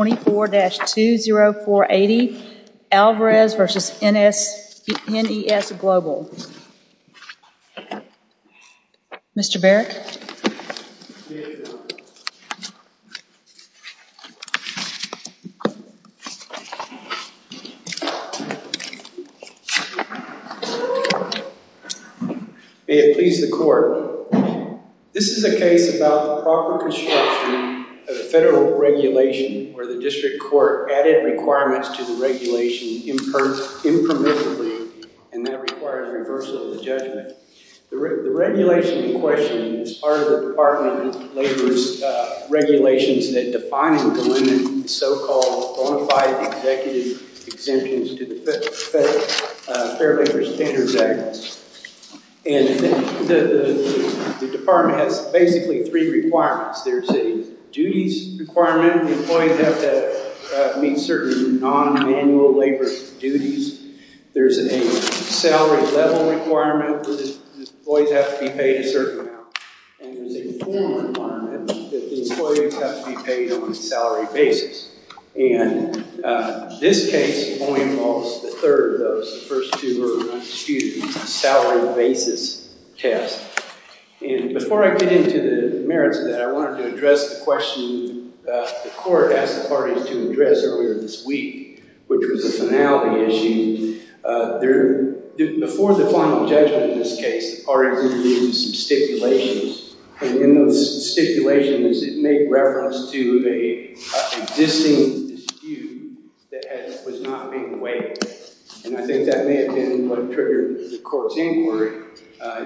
24-20480, Alvarez v. NES Global. Mr. Barrett. May it please the court. This is a case about the proper construction of a federal regulation where the district court added requirements to the regulation impermissibly, and that requires reversal of the judgment. The regulation in question is part of the Department of Labor's regulations that define and delimit so-called bona fide executive exemptions to the Fair Labor Standards Act. And the department has basically three requirements. There's a duties requirement that employees have to meet certain non-manual labor duties. There's a salary level requirement that employees have to be paid a certain amount. And there's a formal requirement that the employees have to be paid on a salary basis. And this case only involves the third of those. The first two were salary basis tests. And before I get into the merits of that, I wanted to address the question the court asked the parties to address earlier this week, which was a finality issue. Before the final judgment in this case, the parties interviewed some stipulations. And in those stipulations, it made reference to an existing dispute that was not being weighed. And I think that may have been what triggered the court's inquiry.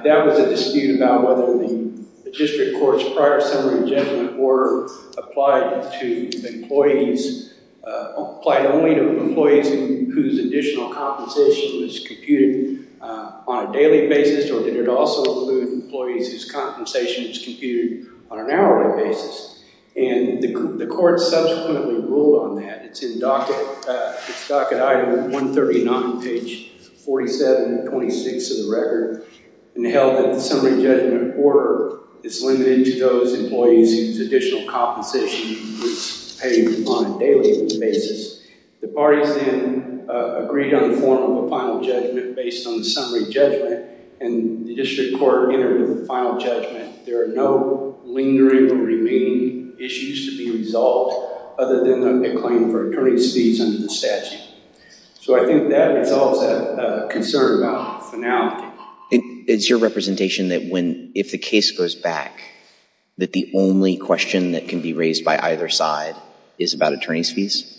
That was a dispute about whether the district court's prior summary judgment were applied to employees, applied only to employees whose additional compensation was computed on a hourly basis. And the court subsequently ruled on that. It's in docket. It's docket item 139, page 47, 26 of the record. And it held that the summary judgment order is limited to those employees whose additional compensation was paid on a daily basis. The parties then agreed on the form of a final judgment based on the summary judgment. And the district court entered the final judgment. There are no lingering or remaining issues to be resolved other than a claim for attorney's fees under the statute. So I think that resolves that concern about finality. It's your representation that if the case goes back, that the only question that can be raised by either side is about attorney's fees?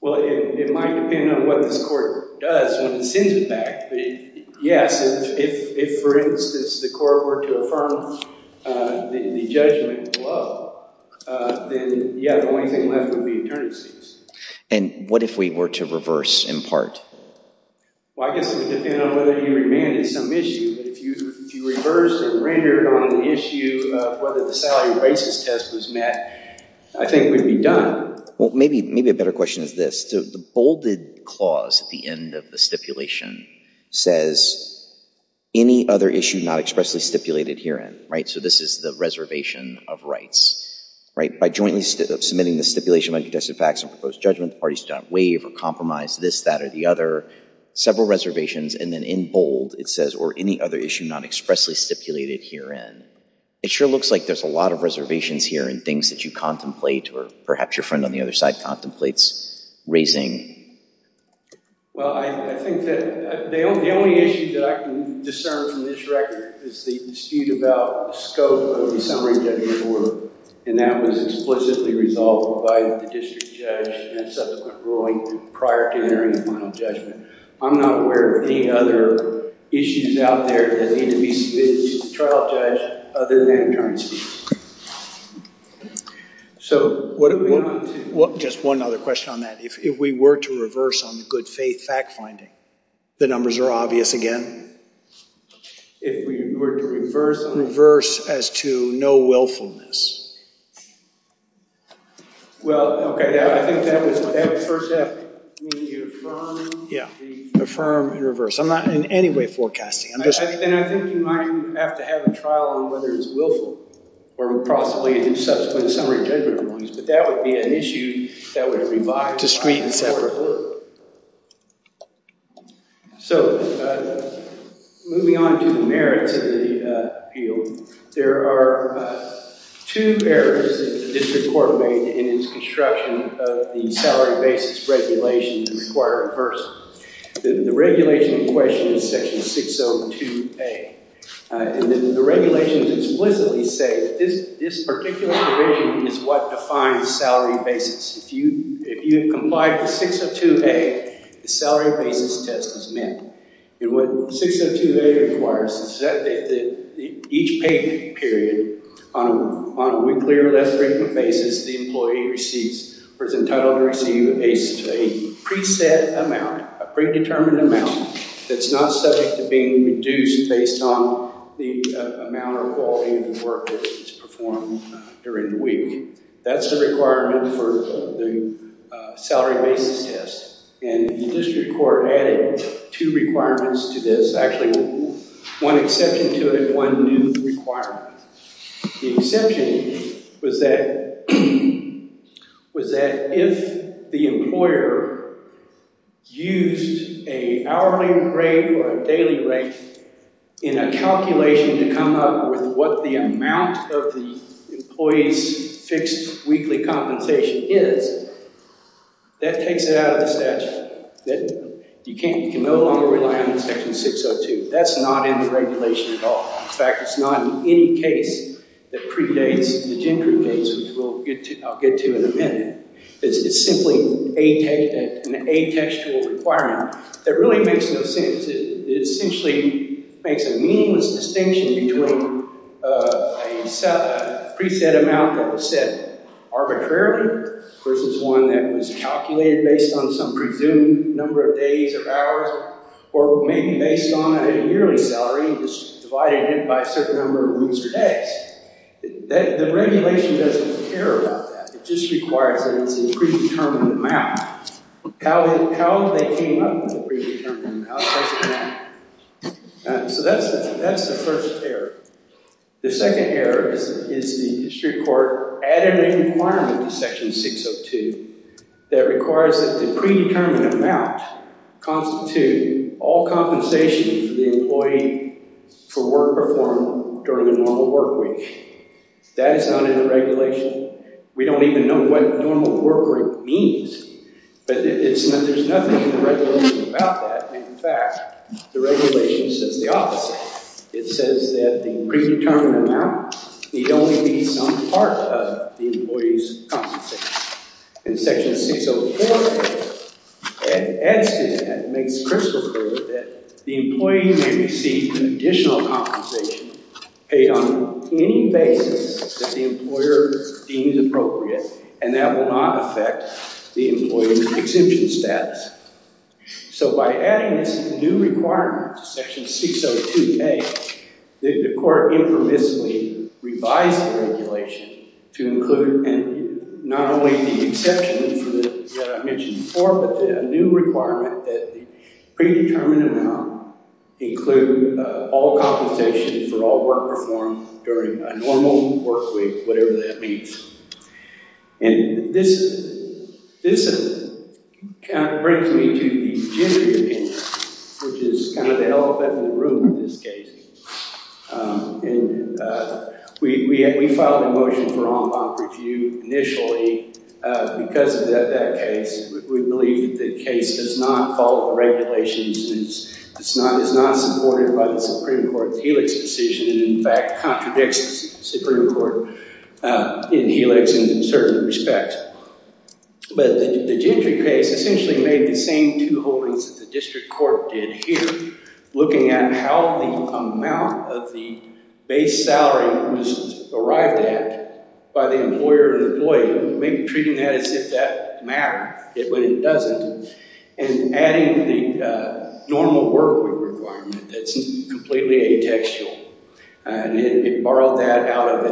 Well, it might depend on what this court does when it sends it back. But yes, if, for instance, the court were to affirm the judgment below, then, yeah, the only thing left would be attorney's fees. And what if we were to reverse, in part? Well, I guess it would depend on whether you remanded some issue. But if you reversed or rendered on the issue of whether the salary basis test was met, I think we'd be done. Well, maybe a better question is this. The bolded clause at the end of the stipulation says, any other issue not expressly stipulated herein. So this is the reservation of rights. By jointly submitting the stipulation by contested facts and proposed judgment, the parties do not waive or compromise this, that, or the other. Several reservations. And then in bold, it says, or any other issue not expressly stipulated herein. It sure looks like there's a lot of reservations here and things that you contemplate, or perhaps your friend on the other side contemplates, raising. Well, I think that the only issue that I can discern from this record is the dispute about the scope of the summary judgment order. And that was explicitly resolved by the district judge in that subsequent ruling prior to entering the final judgment. I'm not aware of any other issues out there that need to be submitted to the trial judge other than attorney's fees. So what do we want to do? Just one other question on that. If we were to reverse on the good faith fact finding, the numbers are obvious again? If we were to reverse? Reverse as to no willfulness. Well, okay. I think that would first have to be affirmed. Affirm and reverse. I'm not in any way forecasting. Then I think you might have to have a trial on whether it's willful or possibly in subsequent summary judgment rulings. But that would be an issue that would revolve. Discreet and separate. So moving on to the merits of the appeal, there are two errors that the district court made in its construction of the salary basis regulation to require a person. The regulation in question is section 602A. And the regulations explicitly say that this particular provision is what defines salary basis. If you have complied with 602A, the salary basis test is met. And what 602A requires is that each paid period on a weekly or less frequent basis, the employee receives or is entitled to receive a preset amount, a predetermined amount that's not subject to being reduced based on the amount or quality of the work that's performed during the week. That's the requirement for the salary basis test. And the district court added two requirements to this. Actually, one exception to it and one new requirement. The exception was that if the employer used an hourly rate or a daily rate in a calculation to come up with what the amount of the employee's fixed weekly compensation is, that takes it out of the statute. You can no longer rely on section 602. That's not in the regulation at all. In fact, it's not in any case that predates the gender case, which I'll get to in a minute. It's simply an atextual requirement. That really makes no sense. It essentially makes a meaningless distinction between a preset amount that was set arbitrarily versus one that was calculated based on some presumed number of days or hours or maybe based on a yearly salary divided by a certain number of weeks or days. The regulation doesn't care about that. It just requires that it's a predetermined amount. How they came up with the predetermined amount doesn't matter. So that's the first error. The second error is the district court added a requirement to section 602 that requires that the predetermined amount constitute all compensation for the employee for work performed during a normal work week. That is not in the regulation. We don't even know what normal work week means. But there's nothing in the regulation about that. In fact, the regulation says the opposite. It says that the predetermined amount need only be some part of the employee's compensation. In section 604, it adds to that and makes crystal clear that the employee may receive additional compensation paid on any basis that the employer deems appropriate, and that will not affect the employee's exemption status. So by adding this new requirement to section 602A, the court infamously revised the regulation to include not only the exception that I mentioned before, but a new requirement that the predetermined amount include all compensation for all work performed during a normal work week, whatever that means. And this brings me to the gendered opinion, which is kind of the elephant in the room in this case. And we filed a motion for en banc review initially because of that case. We believe that the case does not follow the regulations and is not supported by the Supreme Court's Helix decision and, in fact, contradicts the Supreme Court in Helix in certain respects. But the gendered case essentially made the same two holdings that the district court did here, looking at how the amount of the base salary was derived at by the employer or employee, maybe treating that as if that mattered when it doesn't, and adding the normal work week requirement that's completely atextual. And it borrowed that out of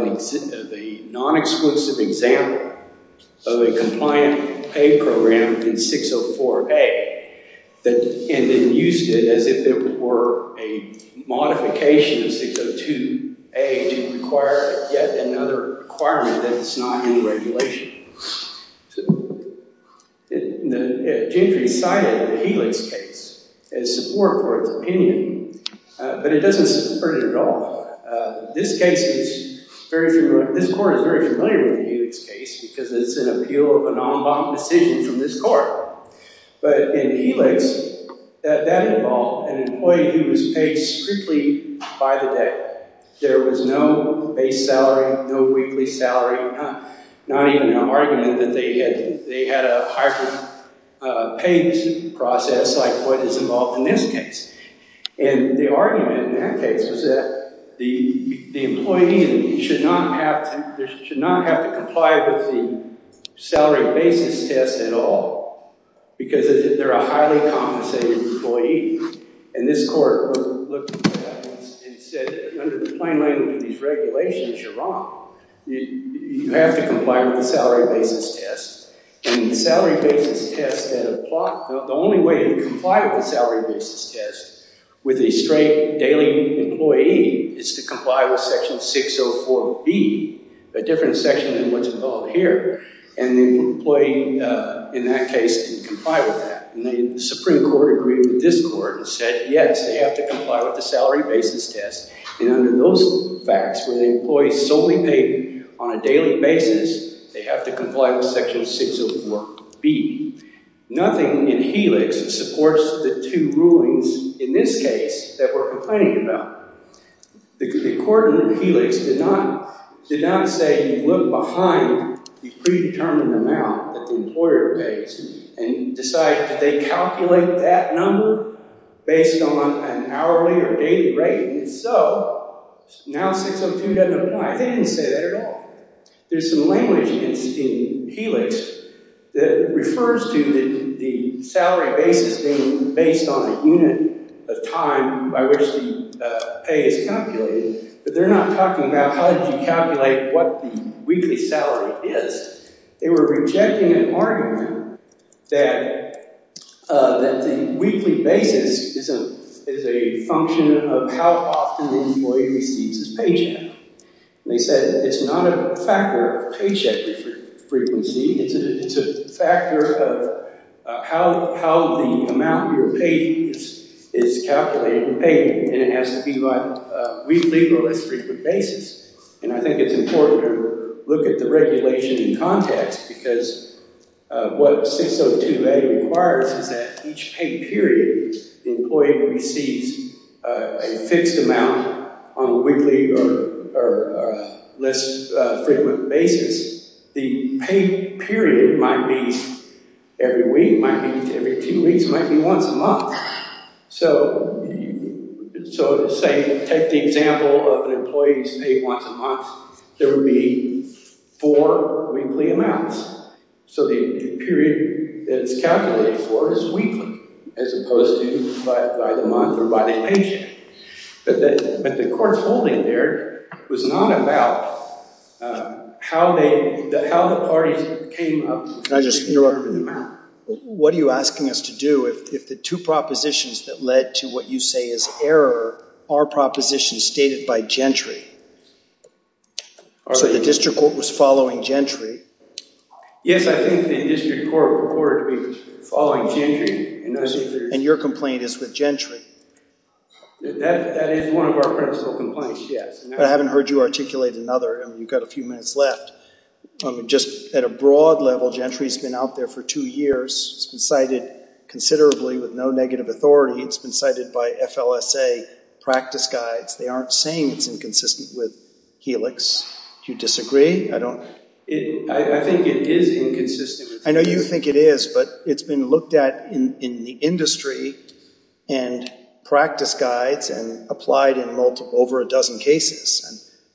the non-exclusive example of a compliant paid program in 604A and then used it as if it were a modification of 602A to require yet another requirement that's not in the regulation. So the gentry cited the Helix case as support for its opinion, but it doesn't support it at all. This case is very familiar. This court is very familiar with the Helix case because it's an appeal of a non-en banc decision from this court. But in Helix, that involved an employee who was paid strictly by the day. There was no base salary, no weekly salary, not even an argument that they had a hybrid paid process like what is involved in this case. And the argument in that case was that the employee should not have to comply with the salary basis test at all because they're a highly compensated employee. And this court looked at that and said, under the plain language of these regulations, you're wrong. You have to comply with the salary basis test. And the salary basis test, the only way to comply with the salary basis test with a straight daily employee is to comply with section 604B, a different section than what's involved here. And the employee in that case can comply with that. And the Supreme Court agreed with this court and said, yes, they have to comply with the salary basis test. And under those facts, where the employee is solely paid on a daily basis, they have to comply with section 604B. Nothing in Helix supports the two rulings in this case that we're complaining about. The court in Helix did not say, look behind the predetermined amount that the employer pays and decide that they calculate that number based on an hourly or daily rate. And so now 602 doesn't apply. They didn't say that at all. There's some language in Helix that refers to the salary basis being based on a unit of time by which the pay is calculated. But they're not talking about how do you calculate what the weekly salary is. They were rejecting an argument that the weekly basis is a function of how often the employee receives his paycheck. They said it's not a factor of paycheck frequency. It's a factor of how the amount you're paid is calculated and paid. And it has to be by a weekly or less frequent basis. And I think it's important to look at the regulation in context because what 602A requires is that each pay period, the employee receives a fixed amount on a weekly or less frequent basis. The pay period might be every week, might be every two weeks, might be once a month. So let's say, take the example of an employee who's paid once a month. There would be four weekly amounts. So the period that it's calculated for is weekly as opposed to by the month or by the paycheck. But the court's holding there was not about how the parties came up. Can I just interrupt? What are you asking us to do if the two propositions that led to what you say is error are propositions stated by Gentry? So the district court was following Gentry? Yes, I think the district court reported to be following Gentry. And your complaint is with Gentry? That is one of our principal complaints, yes. But I haven't heard you articulate another. You've got a few minutes left. Just at a broad level, Gentry's been out there for two years. It's been cited considerably with no negative authority. It's been cited by FLSA practice guides. They aren't saying it's inconsistent with Helix. Do you disagree? I think it is inconsistent with Helix. I know you think it is, but it's been looked at in the industry and practice guides and applied in over a dozen cases.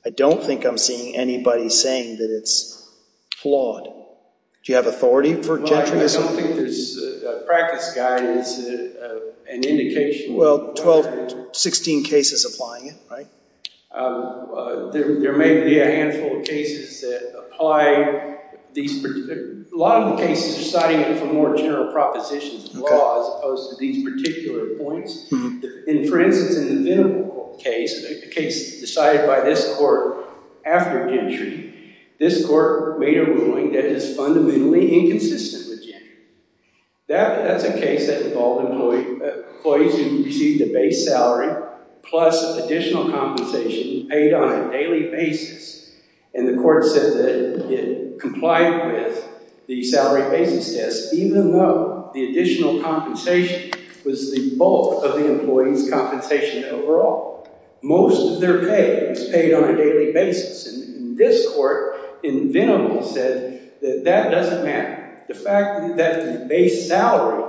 And I don't think I'm seeing anybody saying that it's flawed. Do you have authority for Gentry? I don't think there's a practice guide as an indication. Well, 16 cases applying it, right? There may be a handful of cases that apply. A lot of the cases are citing it for more general propositions of the law as opposed to these particular points. For instance, in the Vennable case, a case decided by this court after Gentry, this court made a ruling that is fundamentally inconsistent with Gentry. That's a case that involved employees who received a base salary plus additional compensation paid on a daily basis. And the court said that it complied with the salary basis test, even though the additional compensation was the bulk of the employee's compensation overall. Most of their pay was paid on a daily basis. And this court in Vennable said that that doesn't matter. The fact that the base salary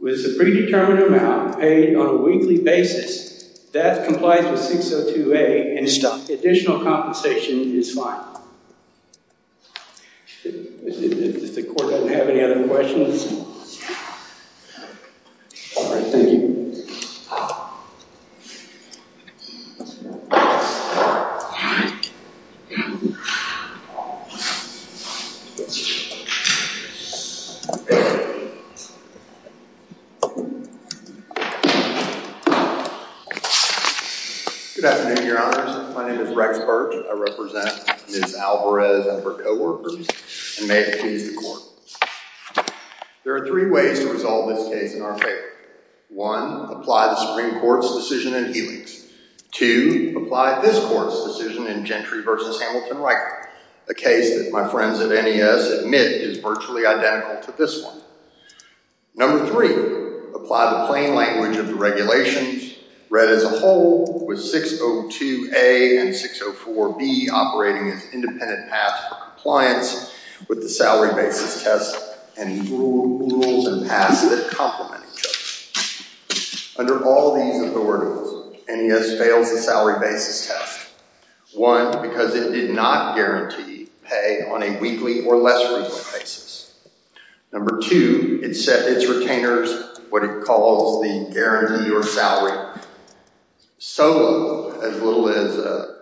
was the predetermined amount paid on a weekly basis, that complies with 602A and additional compensation is fine. If the court doesn't have any other questions. All right, thank you. Thank you. Good afternoon, your honors. My name is Rex Birch. I represent Ms. Alvarez and her co-workers. And may it please the court, there are three ways to resolve this case in our favor. One, apply the Supreme Court's decision in Helix. Two, apply this court's decision in Gentry v. Hamilton-Riker. A case that my friends at NES admit is virtually identical to this one. Number three, apply the plain language of the regulations read as a whole with 602A and 604B operating as independent paths for compliance with the salary basis test and rules and paths that complement each other. Under all these authorities, NES fails the salary basis test. One, because it did not guarantee pay on a weekly or less regular basis. Number two, it set its retainers what it calls the guarantee or salary solo, as little as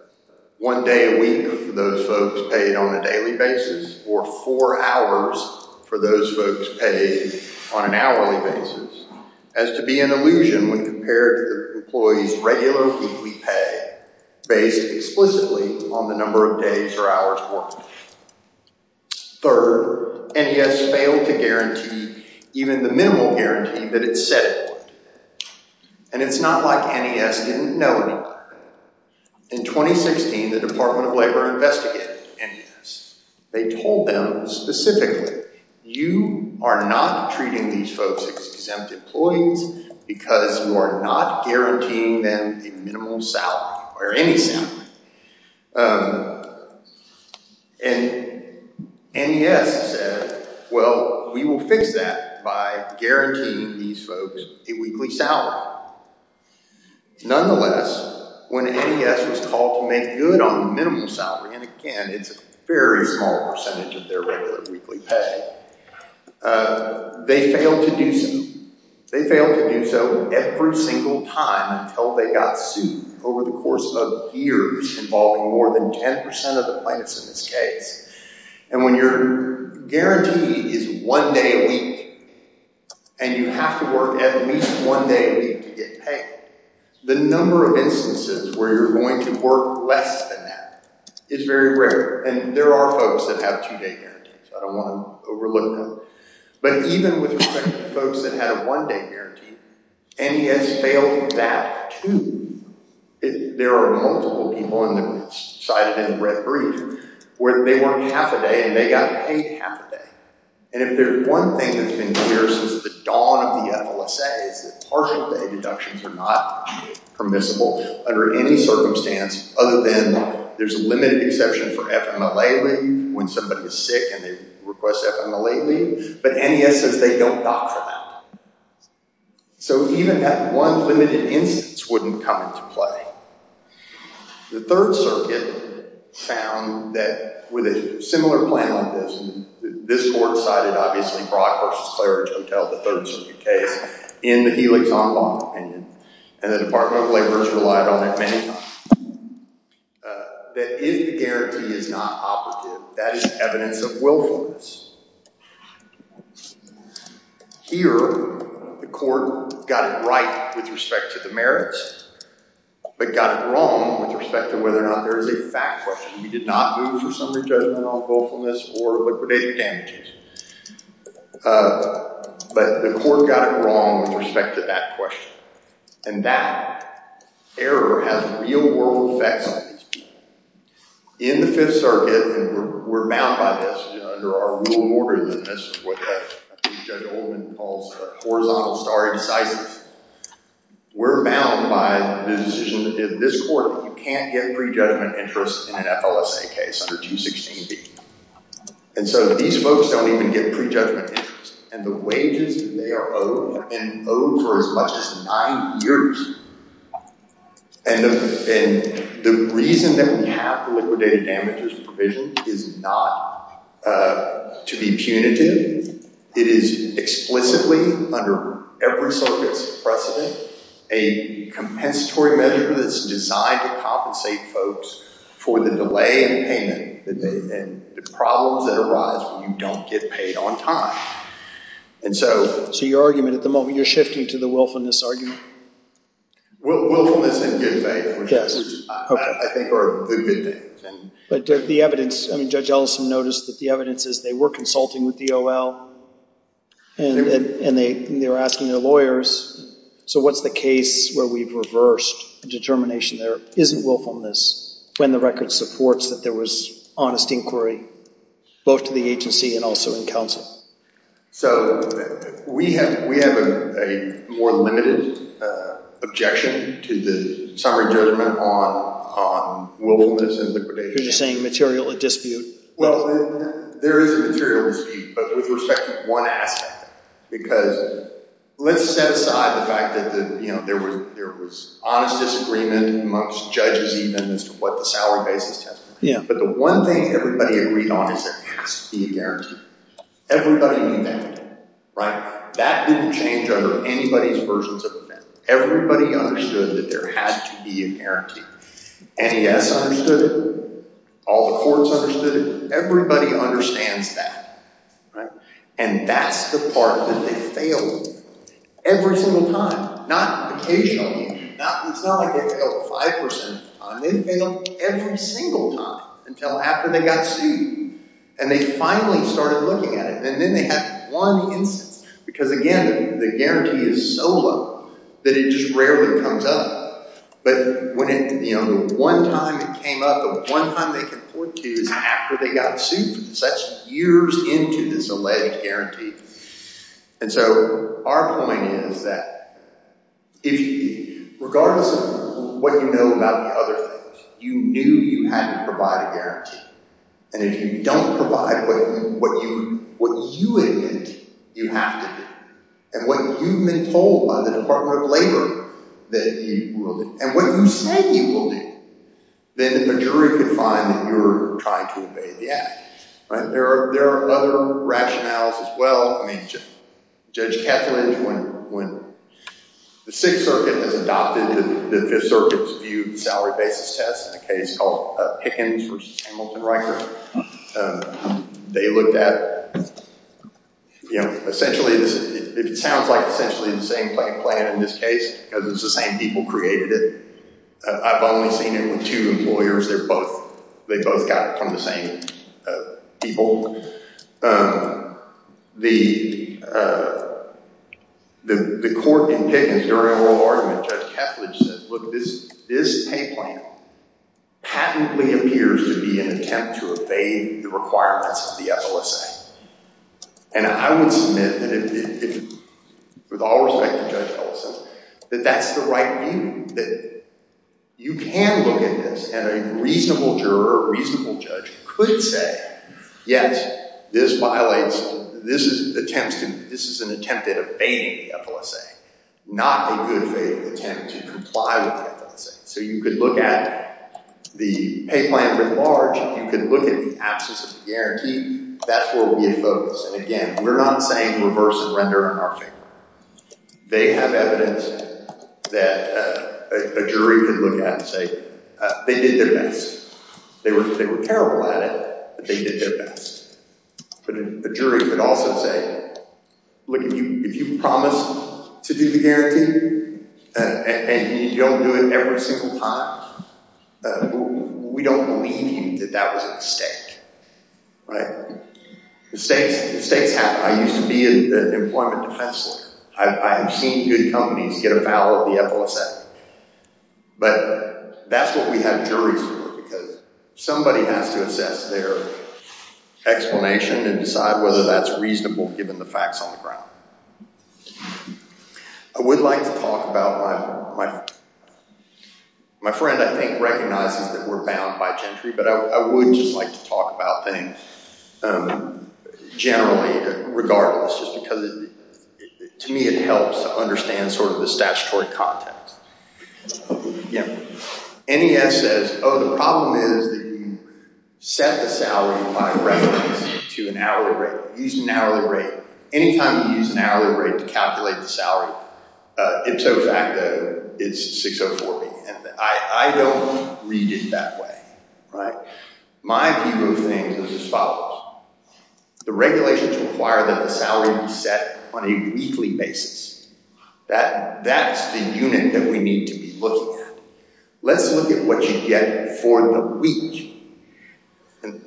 one day a week for those folks paid on a daily basis or four hours for those folks paid on an hourly basis. As to be an illusion when compared to the employees' regular weekly pay based explicitly on the number of days or hours worked. Third, NES failed to guarantee even the minimal guarantee that it said it would. And it's not like NES didn't know any of that. In 2016, the Department of Labor investigated NES. They told them specifically, you are not treating these folks as exempt employees because you are not guaranteeing them a minimal salary or any salary. And NES said, well, we will fix that by guaranteeing these folks a weekly salary. Nonetheless, when NES was called to make good on the minimum salary, and again, it's a very small percentage of their regular weekly pay, they failed to do so. They failed to do so every single time until they got sued over the course of years involving more than 10% of the plaintiffs in this case. And when your guarantee is one day a week and you have to work at least one day a week to get paid, the number of instances where you're going to work less than that is very rare. And there are folks that have two day guarantees. I don't want to overlook them. But even with respect to folks that had a one day guarantee, NES failed that too. There are multiple people, and I cited in the red brief, where they worked half a day and they got paid half a day. And if there's one thing that's been clear since the dawn of the FLSA is that partial day deductions are not permissible under any circumstance other than there's a limited exception for FMLA leave when somebody is sick and they request FMLA leave. But NES says they don't dock for that. So even that one limited instance wouldn't come into play. The Third Circuit found that with a similar plan like this, and this court cited obviously Brock v. Claridge Hotel, the Third Circuit case, in the Helix-On-Lawn opinion, and the Department of Labor has relied on it many times, that if the guarantee is not operative, that is evidence of willfulness. Here, the court got it right with respect to the merits, but got it wrong with respect to whether or not there is a fact question. We did not move for summary judgment on willfulness or liquidated damages. But the court got it wrong with respect to that question. And that error has real world effects on these people. In the Fifth Circuit, and we're bound by this under our rule of order, and this is what Judge Oldman calls horizontal stare decisis. We're bound by the decision that this court that you can't get prejudgment interest in an FLSA case under 216B. And so these folks don't even get prejudgment interest. And the wages that they are owed have been owed for as much as nine years. And the reason that we have the liquidated damages provision is not to be punitive. It is explicitly, under every circuit's precedent, a compensatory measure that's designed to compensate folks for the delay in payment and the problems that arise when you don't get paid on time. So your argument at the moment, you're shifting to the willfulness argument? Willfulness in good faith, which I think are the good things. But the evidence, Judge Ellison noticed that the evidence is they were consulting with DOL, and they were asking their lawyers, so what's the case where we've reversed a determination there isn't willfulness when the record supports that there was honest inquiry, both to the agency and also in counsel? So we have a more limited objection to the summary judgment on willfulness and liquidation. You're saying material dispute? Well, there is a material dispute, but with respect to one aspect. Because let's set aside the fact that there was honest disagreement amongst judges even as to what the salary basis test was. But the one thing everybody agreed on is there has to be a guarantee. Everybody knew that. That didn't change under anybody's versions of the bill. Everybody understood that there had to be a guarantee. NES understood it. All the courts understood it. Everybody understands that. And that's the part that they failed. Every single time. Not occasionally. It's not like they failed 5% of the time. They failed every single time until after they got sued. And they finally started looking at it. And then they had one instance. Because again, the guarantee is so low that it just rarely comes up. But the one time it came up, the one time they can point to is after they got sued. That's years into this alleged guarantee. And so our point is that regardless of what you know about the other things, you knew you had to provide a guarantee. If you don't provide what you admit you have to do. And what you've been told by the Department of Labor that you will do. And what you say you will do. Then the majority can find that you're trying to obey the act. There are other rationales as well. Judge Kethledge, when the 6th Circuit has adopted the 5th Circuit's view of the salary basis test in a case called Pickens v. Hamilton-Riker. They looked at, essentially, it sounds like essentially the same plan in this case. Because it's the same people created it. I've only seen it with two employers. They both got it from the same people. The court in Pickens during oral argument, Judge Kethledge said, Look, this pay plan patently appears to be an attempt to evade the requirements of the FLSA. And I would submit, with all respect to Judge Kethledge, that that's the right view. That you can look at this and a reasonable juror or reasonable judge could say, Yes, this violates, this is an attempt at evading the FLSA. Not a good attempt to comply with the FLSA. So you could look at the pay plan writ large. You could look at the absence of a guarantee. That's where we would focus. And again, we're not saying reverse surrender on our favor. They have evidence that a jury could look at and say, They did their best. They were terrible at it, but they did their best. But a jury could also say, Look, if you promised to do the guarantee and you don't do it every single time, we don't believe you that that was a mistake. Right? Mistakes happen. I used to be an employment defense lawyer. I have seen good companies get a foul of the FLSA. But that's what we have juries for. Because somebody has to assess their explanation and decide whether that's reasonable, given the facts on the ground. I would like to talk about, my friend, I think, recognizes that we're bound by gentry, but I would just like to talk about things generally, regardless, just because to me it helps to understand sort of the statutory context. NES says, oh, the problem is that you set the salary by reference to an hourly rate. Anytime you use an hourly rate to calculate the salary, ipso facto, it's 6040. And I don't read it that way. My view of things is as follows. The regulations require that the salary be set on a weekly basis. That's the unit that we need to be looking at. Let's look at what you get for the week.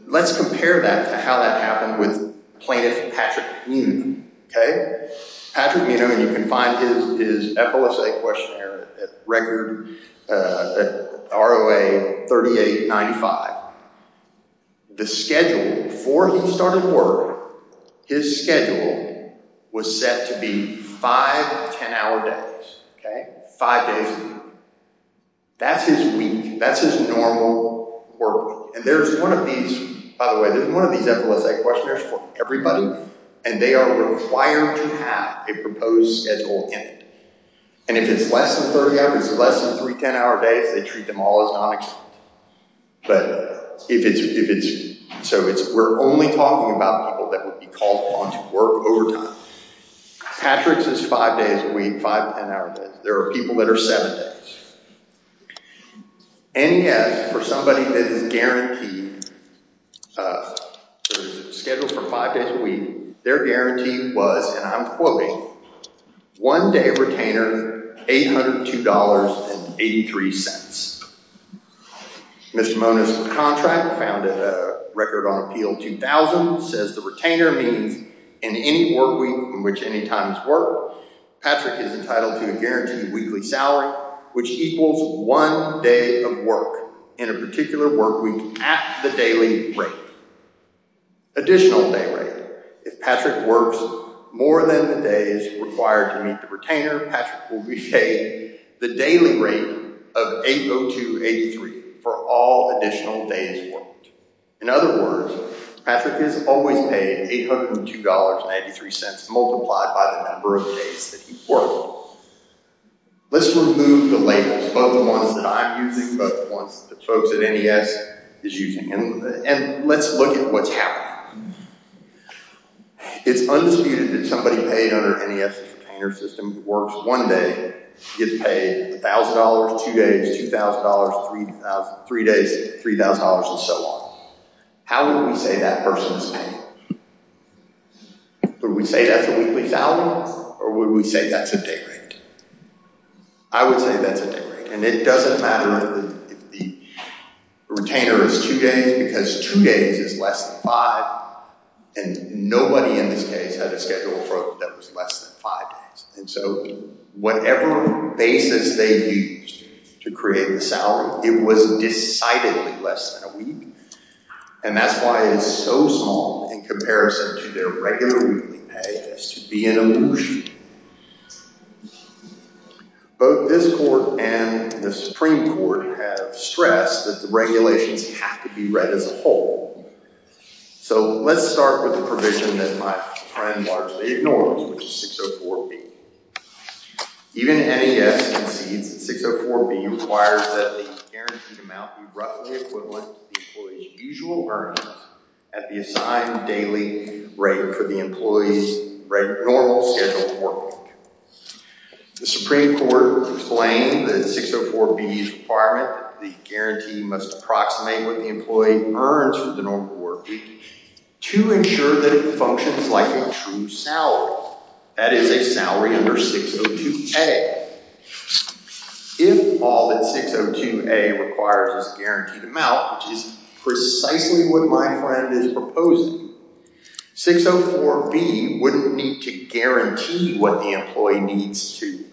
Let's compare that to how that happened with plaintiff Patrick Minow. Okay? Patrick Minow, and you can find his FLSA questionnaire at record, at ROA 3895. The schedule, before he started work, his schedule was set to be five 10-hour days. Five days a week. That's his week. That's his normal work week. And there's one of these, by the way, there's one of these FLSA questionnaires for everybody, and they are required to have a proposed schedule in it. And if it's less than 30 hours, less than three 10-hour days, they treat them all as non-exempt. But if it's, if it's, so it's, we're only talking about people that would be called on to work overtime. Patrick's is five days a week, five 10-hour days. There are people that are seven days. NES, for somebody that is guaranteed, scheduled for five days a week, their guarantee was, and I'm quoting, one day retainer, $802.83. Mr. Mona's contract founded a record on appeal 2000, says the retainer means in any work week in which any time is worked, Patrick is entitled to a guaranteed weekly salary, which equals one day of work in a particular work week at the daily rate. Additional day rate, if Patrick works more than the day is required to meet the retainer, Patrick will be paid the daily rate of $802.83. For all additional days worked. In other words, Patrick is always paid $802.93, multiplied by the number of days that he worked. Let's remove the labels, both the ones that I'm using, both the ones that folks at NES is using, and let's look at what's happening. It's undisputed that somebody paid under NES's retainer system who works one day gets paid $1,000, two days, $2,000, three days, $3,000, and so on. How would we say that person's paid? Would we say that's a weekly salary? Or would we say that's a day rate? I would say that's a day rate. And it doesn't matter if the retainer is two days, because two days is less than five, and nobody in this case had a schedule of work that was less than five days. So whatever basis they used to create the salary, it was decidedly less than a week. And that's why it is so small in comparison to their regular weekly pay, as to be an illusion. Both this court and the Supreme Court have stressed that the regulations have to be read as a whole. So let's start with the provision that my friend largely ignores, which is 604B. Even NES concedes that 604B requires that the guaranteed amount be roughly equivalent to the employee's usual earnings at the assigned daily rate for the employee's normal scheduled work week. The Supreme Court proclaimed that 604B's requirement that the guarantee must approximate what the employee earns for the normal work week to ensure that it functions like a true salary. That is a salary under 602A. If all that 602A requires is a guaranteed amount, which is precisely what my friend is proposing, 604B wouldn't need to guarantee what the employee needs to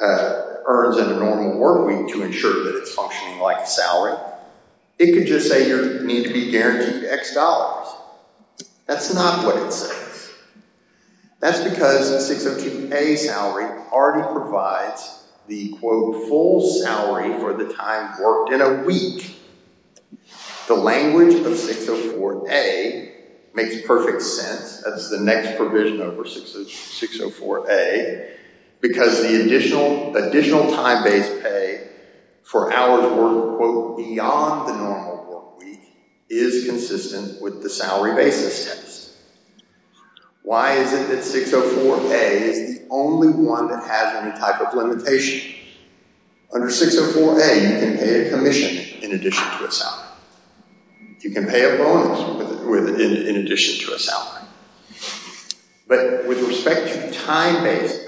earn in a normal work week to ensure that it's functioning like a salary. It could just say you need to be guaranteed X dollars. That's not what it says. That's because 602A's salary already provides the full salary for the time worked in a week. The language of 604A makes perfect sense. That's the next provision over 604A because the additional time base pay for hours worked beyond the normal work week is consistent with the salary basis test. Why is it that 604A is the only one that has any type of limitation? Under 604A you can pay a commission in addition to a salary. You can pay a bonus in addition to a salary. But with respect to the time base pay,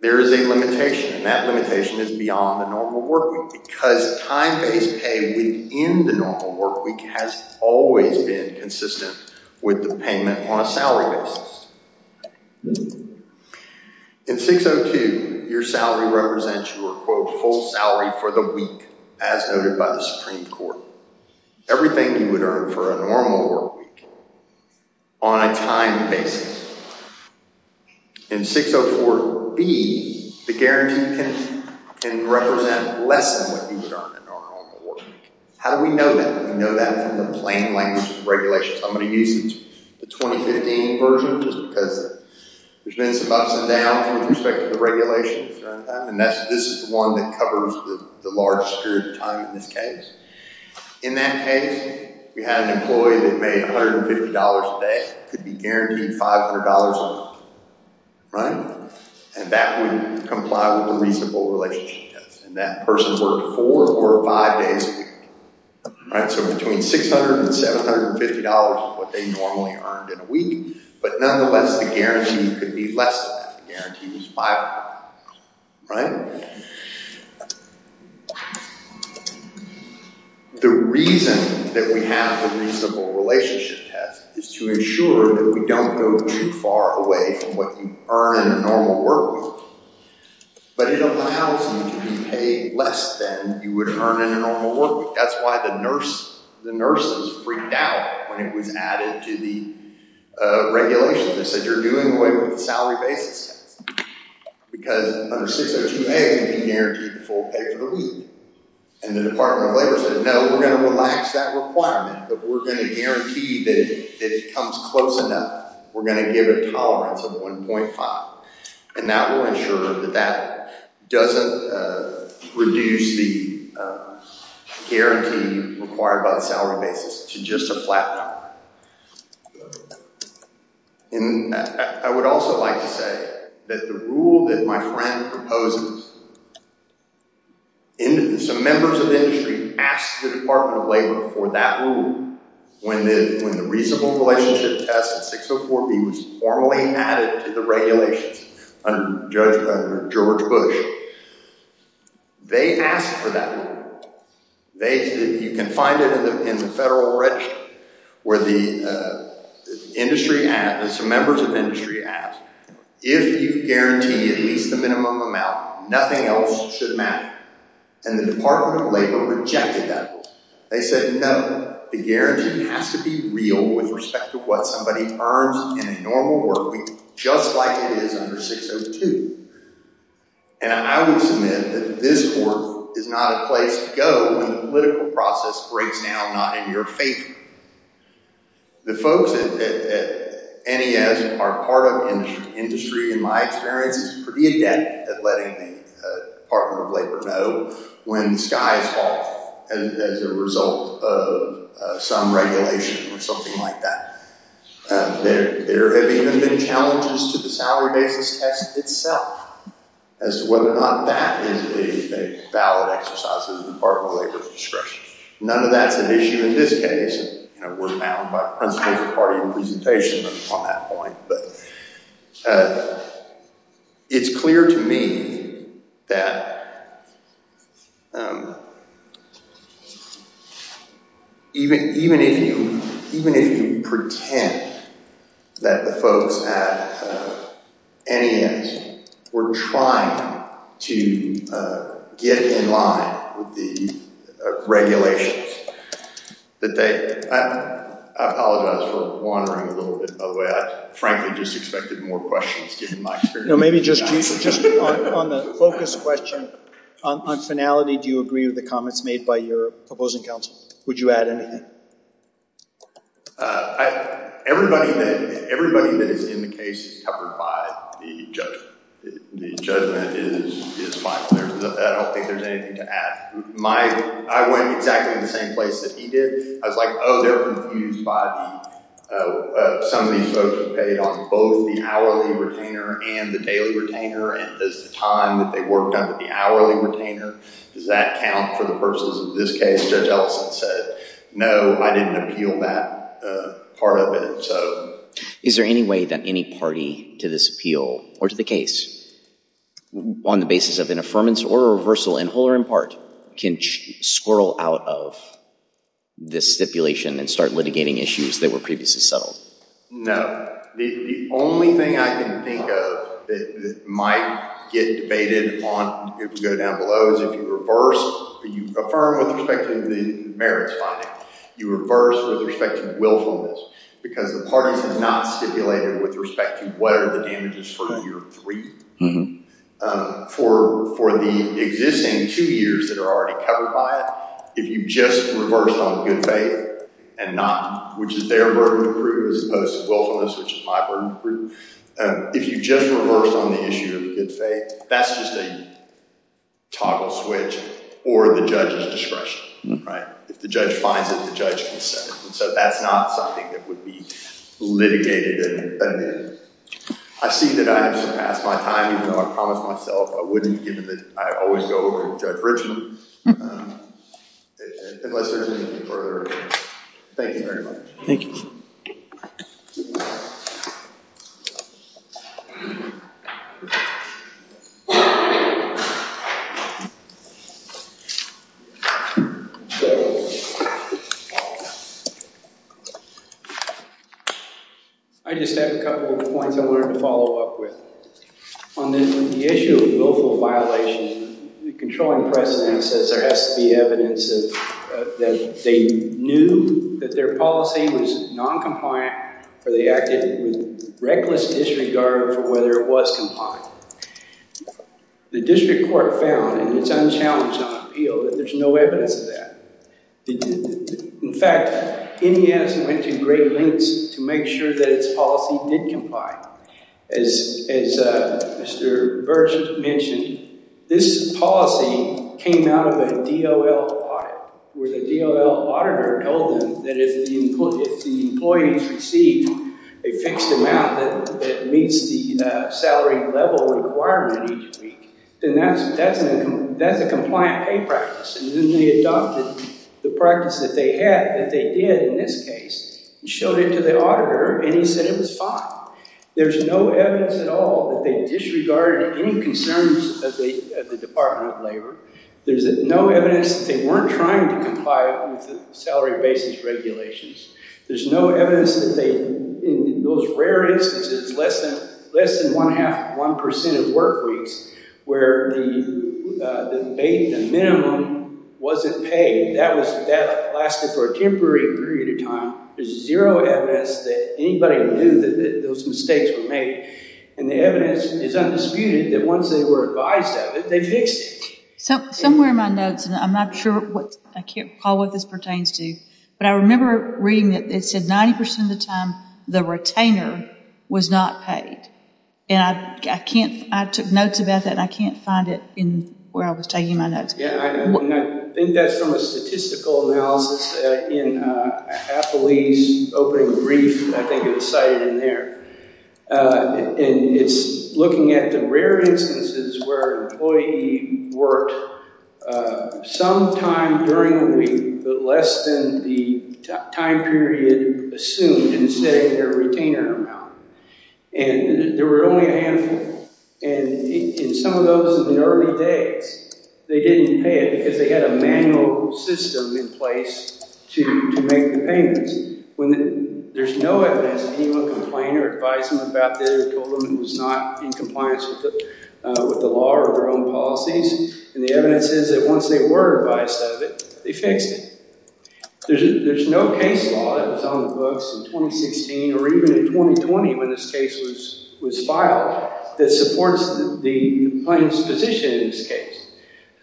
there is a limitation and that limitation is beyond the normal work week because time base pay within the normal work week has always been consistent with the payment on a salary basis. In 602, your salary represents your full salary for the week as noted by the Supreme Court. Everything you would earn for a normal work week on a time basis. In 604B, the guarantee can represent less than what you would earn in a normal work week. How do we know that? We know that from the plain language of the regulations. I'm going to use the 2015 version because there's been some ups and downs with respect to the regulations. This is the one that covers the large period of time in this case. In that case, we had an employee that made $150 a day and could be guaranteed $500 a month. Right? And that would comply with the reasonable relationship test. And that person worked four or five days a week. Right? So between $600 and $750 is what they normally earned in a week. But nonetheless, the guarantee could be less than that. The guarantee was $500. Right? The reason that we have the reasonable relationship test is to ensure that we don't go too far away from what you earn in a normal work week. But it allows you to pay less than you would earn in a normal work week. That's why the nurses freaked out when it was added to the regulations. They said, you're doing away with the salary basis test. Because under 602A, you can guarantee the full pay for the week. And the Department of Labor said, no, we're going to relax that requirement. But we're going to guarantee that if it comes close enough, we're going to give it a tolerance of 1.5. And that will ensure that that doesn't reduce the guarantee required by the salary basis to just a flat number. And I would also like to say that the rule that my friend proposes, some members of industry asked the Department of Labor for that rule when the reasonable relationship test in 604B was formally added to the regulations under George Bush. They asked for that rule. You can find it in the federal register where some members of industry asked, if you guarantee at least the minimum amount, nothing else should matter. And the Department of Labor rejected that rule. They said, no, the guarantee has to be real with respect to what somebody earns in a normal work week just like it is under 602. And I would submit that this work is not a place to go when the political process breaks down not in your favor. The folks at NES are part of industry, in my experience, is pretty adept at letting the Department of Labor know when the sky is falling as a result of some regulation or something like that. There have even been challenges to the salary basis test itself as to whether or not that is a valid exercise of the Department of Labor's discretion. None of that's an issue in this case. We're bound by principles of party representation on that point. It's clear to me that even if you pretend that the folks at NES were trying to get in line with the regulations, I apologize for wandering a little bit. By the way, I frankly just expected more questions given my experience. On the focus question, on finality, do you agree with the comments made by your proposing counsel? Would you add anything? Everybody that is in the case is covered by the judgment. The judgment is final. I don't think there's anything to add. I went exactly in the same place that he did. I was like, oh, they're confused by some of these folks who paid on both the hourly retainer and the daily retainer. Does the time that they worked under the hourly retainer, does that count for the purposes of this case? Judge Ellison said, no, I didn't appeal that part of it. Is there any way that any party to this appeal, or to the case, on the basis of an affirmance or a reversal, in whole or in part, can squirrel out of this stipulation and start litigating issues that were previously settled? No. The only thing I can think of that might get debated if we go down below is if you reverse or you affirm with respect to the merits finding. You reverse with respect to willfulness because the parties have not stipulated with respect to what are the damages for year three. For the existing two years that are already covered by it, if you just reverse on good faith and not, which is their burden to prove as opposed to willfulness, which is my burden to prove. If you just reverse on the issue of good faith, that's just a toggle switch or the judge's discretion. If the judge finds it, the judge can set it. That's not something that would be litigated and amended. I see that I have surpassed my time even though I promised myself I wouldn't given that I always go over to Judge Richmond unless there's anything further. Thank you very much. Thank you. Thank you. I just have a couple of points I wanted to follow up with. On the issue of willful violation, the controlling precedent says there has to be evidence that they knew that their policy was noncompliant or they acted with reckless disregard for whether it was compliant. The district court found in its unchallenged non-appeal that there's no evidence of that. In fact, NES went to great lengths to make sure that its policy did comply. As Mr. Birch mentioned, this policy came out of a DOL audit where the DOL auditor told them that if the employees received a fixed amount that meets the salary level requirement each week, then that's a compliant pay practice. Then they adopted the practice that they had that they did in this case and showed it to the auditor and he said it was fine. There's no evidence at all that they disregarded any concerns of the Department of Labor. There's no evidence that they weren't trying to comply with the salary basis regulations. There's no evidence that they, in those rare instances, less than one percent of work weeks where the minimum wasn't paid. That lasted for a temporary period of time. There's zero evidence that anybody knew that those mistakes were made. And the evidence is undisputed that once they were advised of it, they fixed it. Somewhere in my notes, and I'm not sure what, I can't recall what this pertains to, but I remember reading that it said 90 percent of the time the retainer was not paid. And I can't, I took notes about that and I can't find it in where I was taking my notes. Yeah, and I think that's from a statistical analysis in Appley's opening brief. I think it was cited in there. And it's looking at the rare instances where an employee worked some time during the week, but less than the time period assumed, instead of their retainer amount. And there were only a And it in some of those in the early days, they didn't pay it because they had a manual system in place to make the payments. There's no evidence that anyone complained or advised them about this or told them it was not in compliance with the law or their own policies. And the evidence is that once they were advised of it, they fixed it. There's no case law that was on the books in 2016 or even in 2020 when this case was filed that supports the plaintiff's position in this case.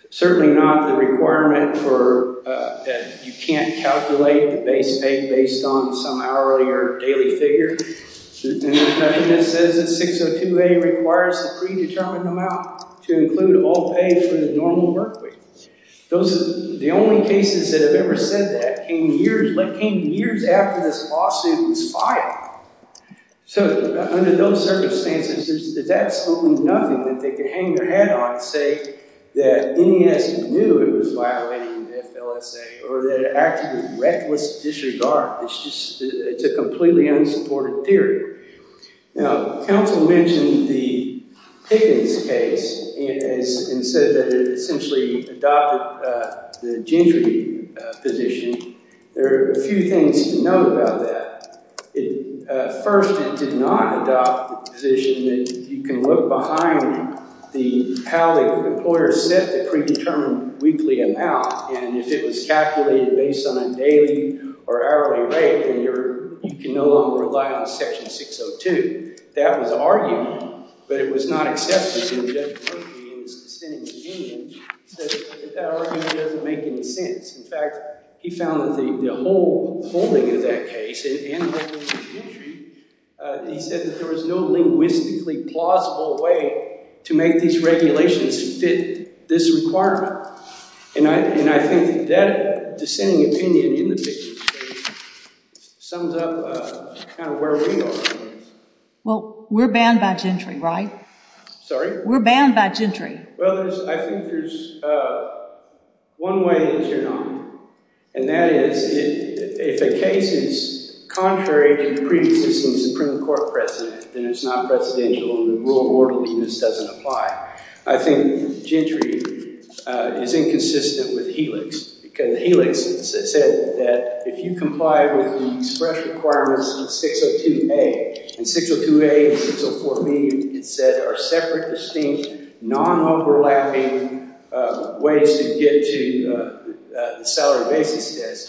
Certainly not the requirement for, you can't calculate the base pay based on some hourly or daily figure. And there's nothing that says that 602A requires the predetermined amount to include all pay for the normal work week. The only cases that have ever said that came years after this case was filed. So under those circumstances there's absolutely nothing that they could hang their head on and say that NES knew it was violating the FLSA or that it acted with reckless disregard. It's a completely unsupported theory. Now, counsel mentioned the Pickens case and said that it essentially adopted the Gentry position. There are a few things to know about that. First, it did not adopt the position that you can look behind how the employer set the predetermined weekly amount and if it was calculated based on a daily or hourly rate then you can no longer rely on section 602. That was argued, but it was not accepted in the Gentry Court of Appeals dissenting opinion that that argument doesn't make any sense. In fact, he found that the whole holding of that case and the whole holding of Gentry, he said that there was no linguistically plausible way to make these regulations fit this requirement. And I think that dissenting opinion in the Pickens case sums up kind of where we are. Well, we're banned by Gentry, right? Sorry? We're banned by Gentry. Well, I think there's one way to turn on it and that is it if a case is contrary to the previous Supreme Supreme Court precedent, then it's not presidential and the rule of orderliness doesn't apply. I think Gentry is inconsistent with Helix because Helix said that if you comply with the express requirements of 602A and 602A and 604B it said are separate, non-overlapping ways to get to the salary basis test.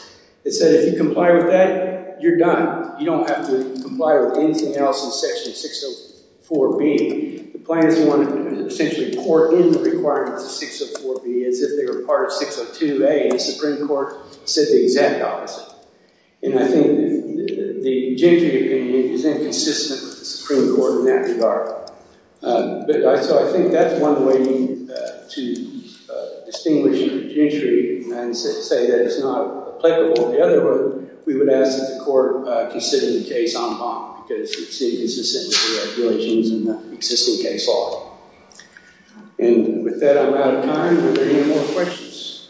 It said if you comply with that, you're done. You don't have to comply with anything else in section 604B. The plan is to essentially pour in the requirements of 604B as if they were part of 602A and the Supreme Court said the exact opposite. And I think the opinion is inconsistent with the regulations and the existing case law. And with that I'm out of time. Are there any more questions? Thank you very much.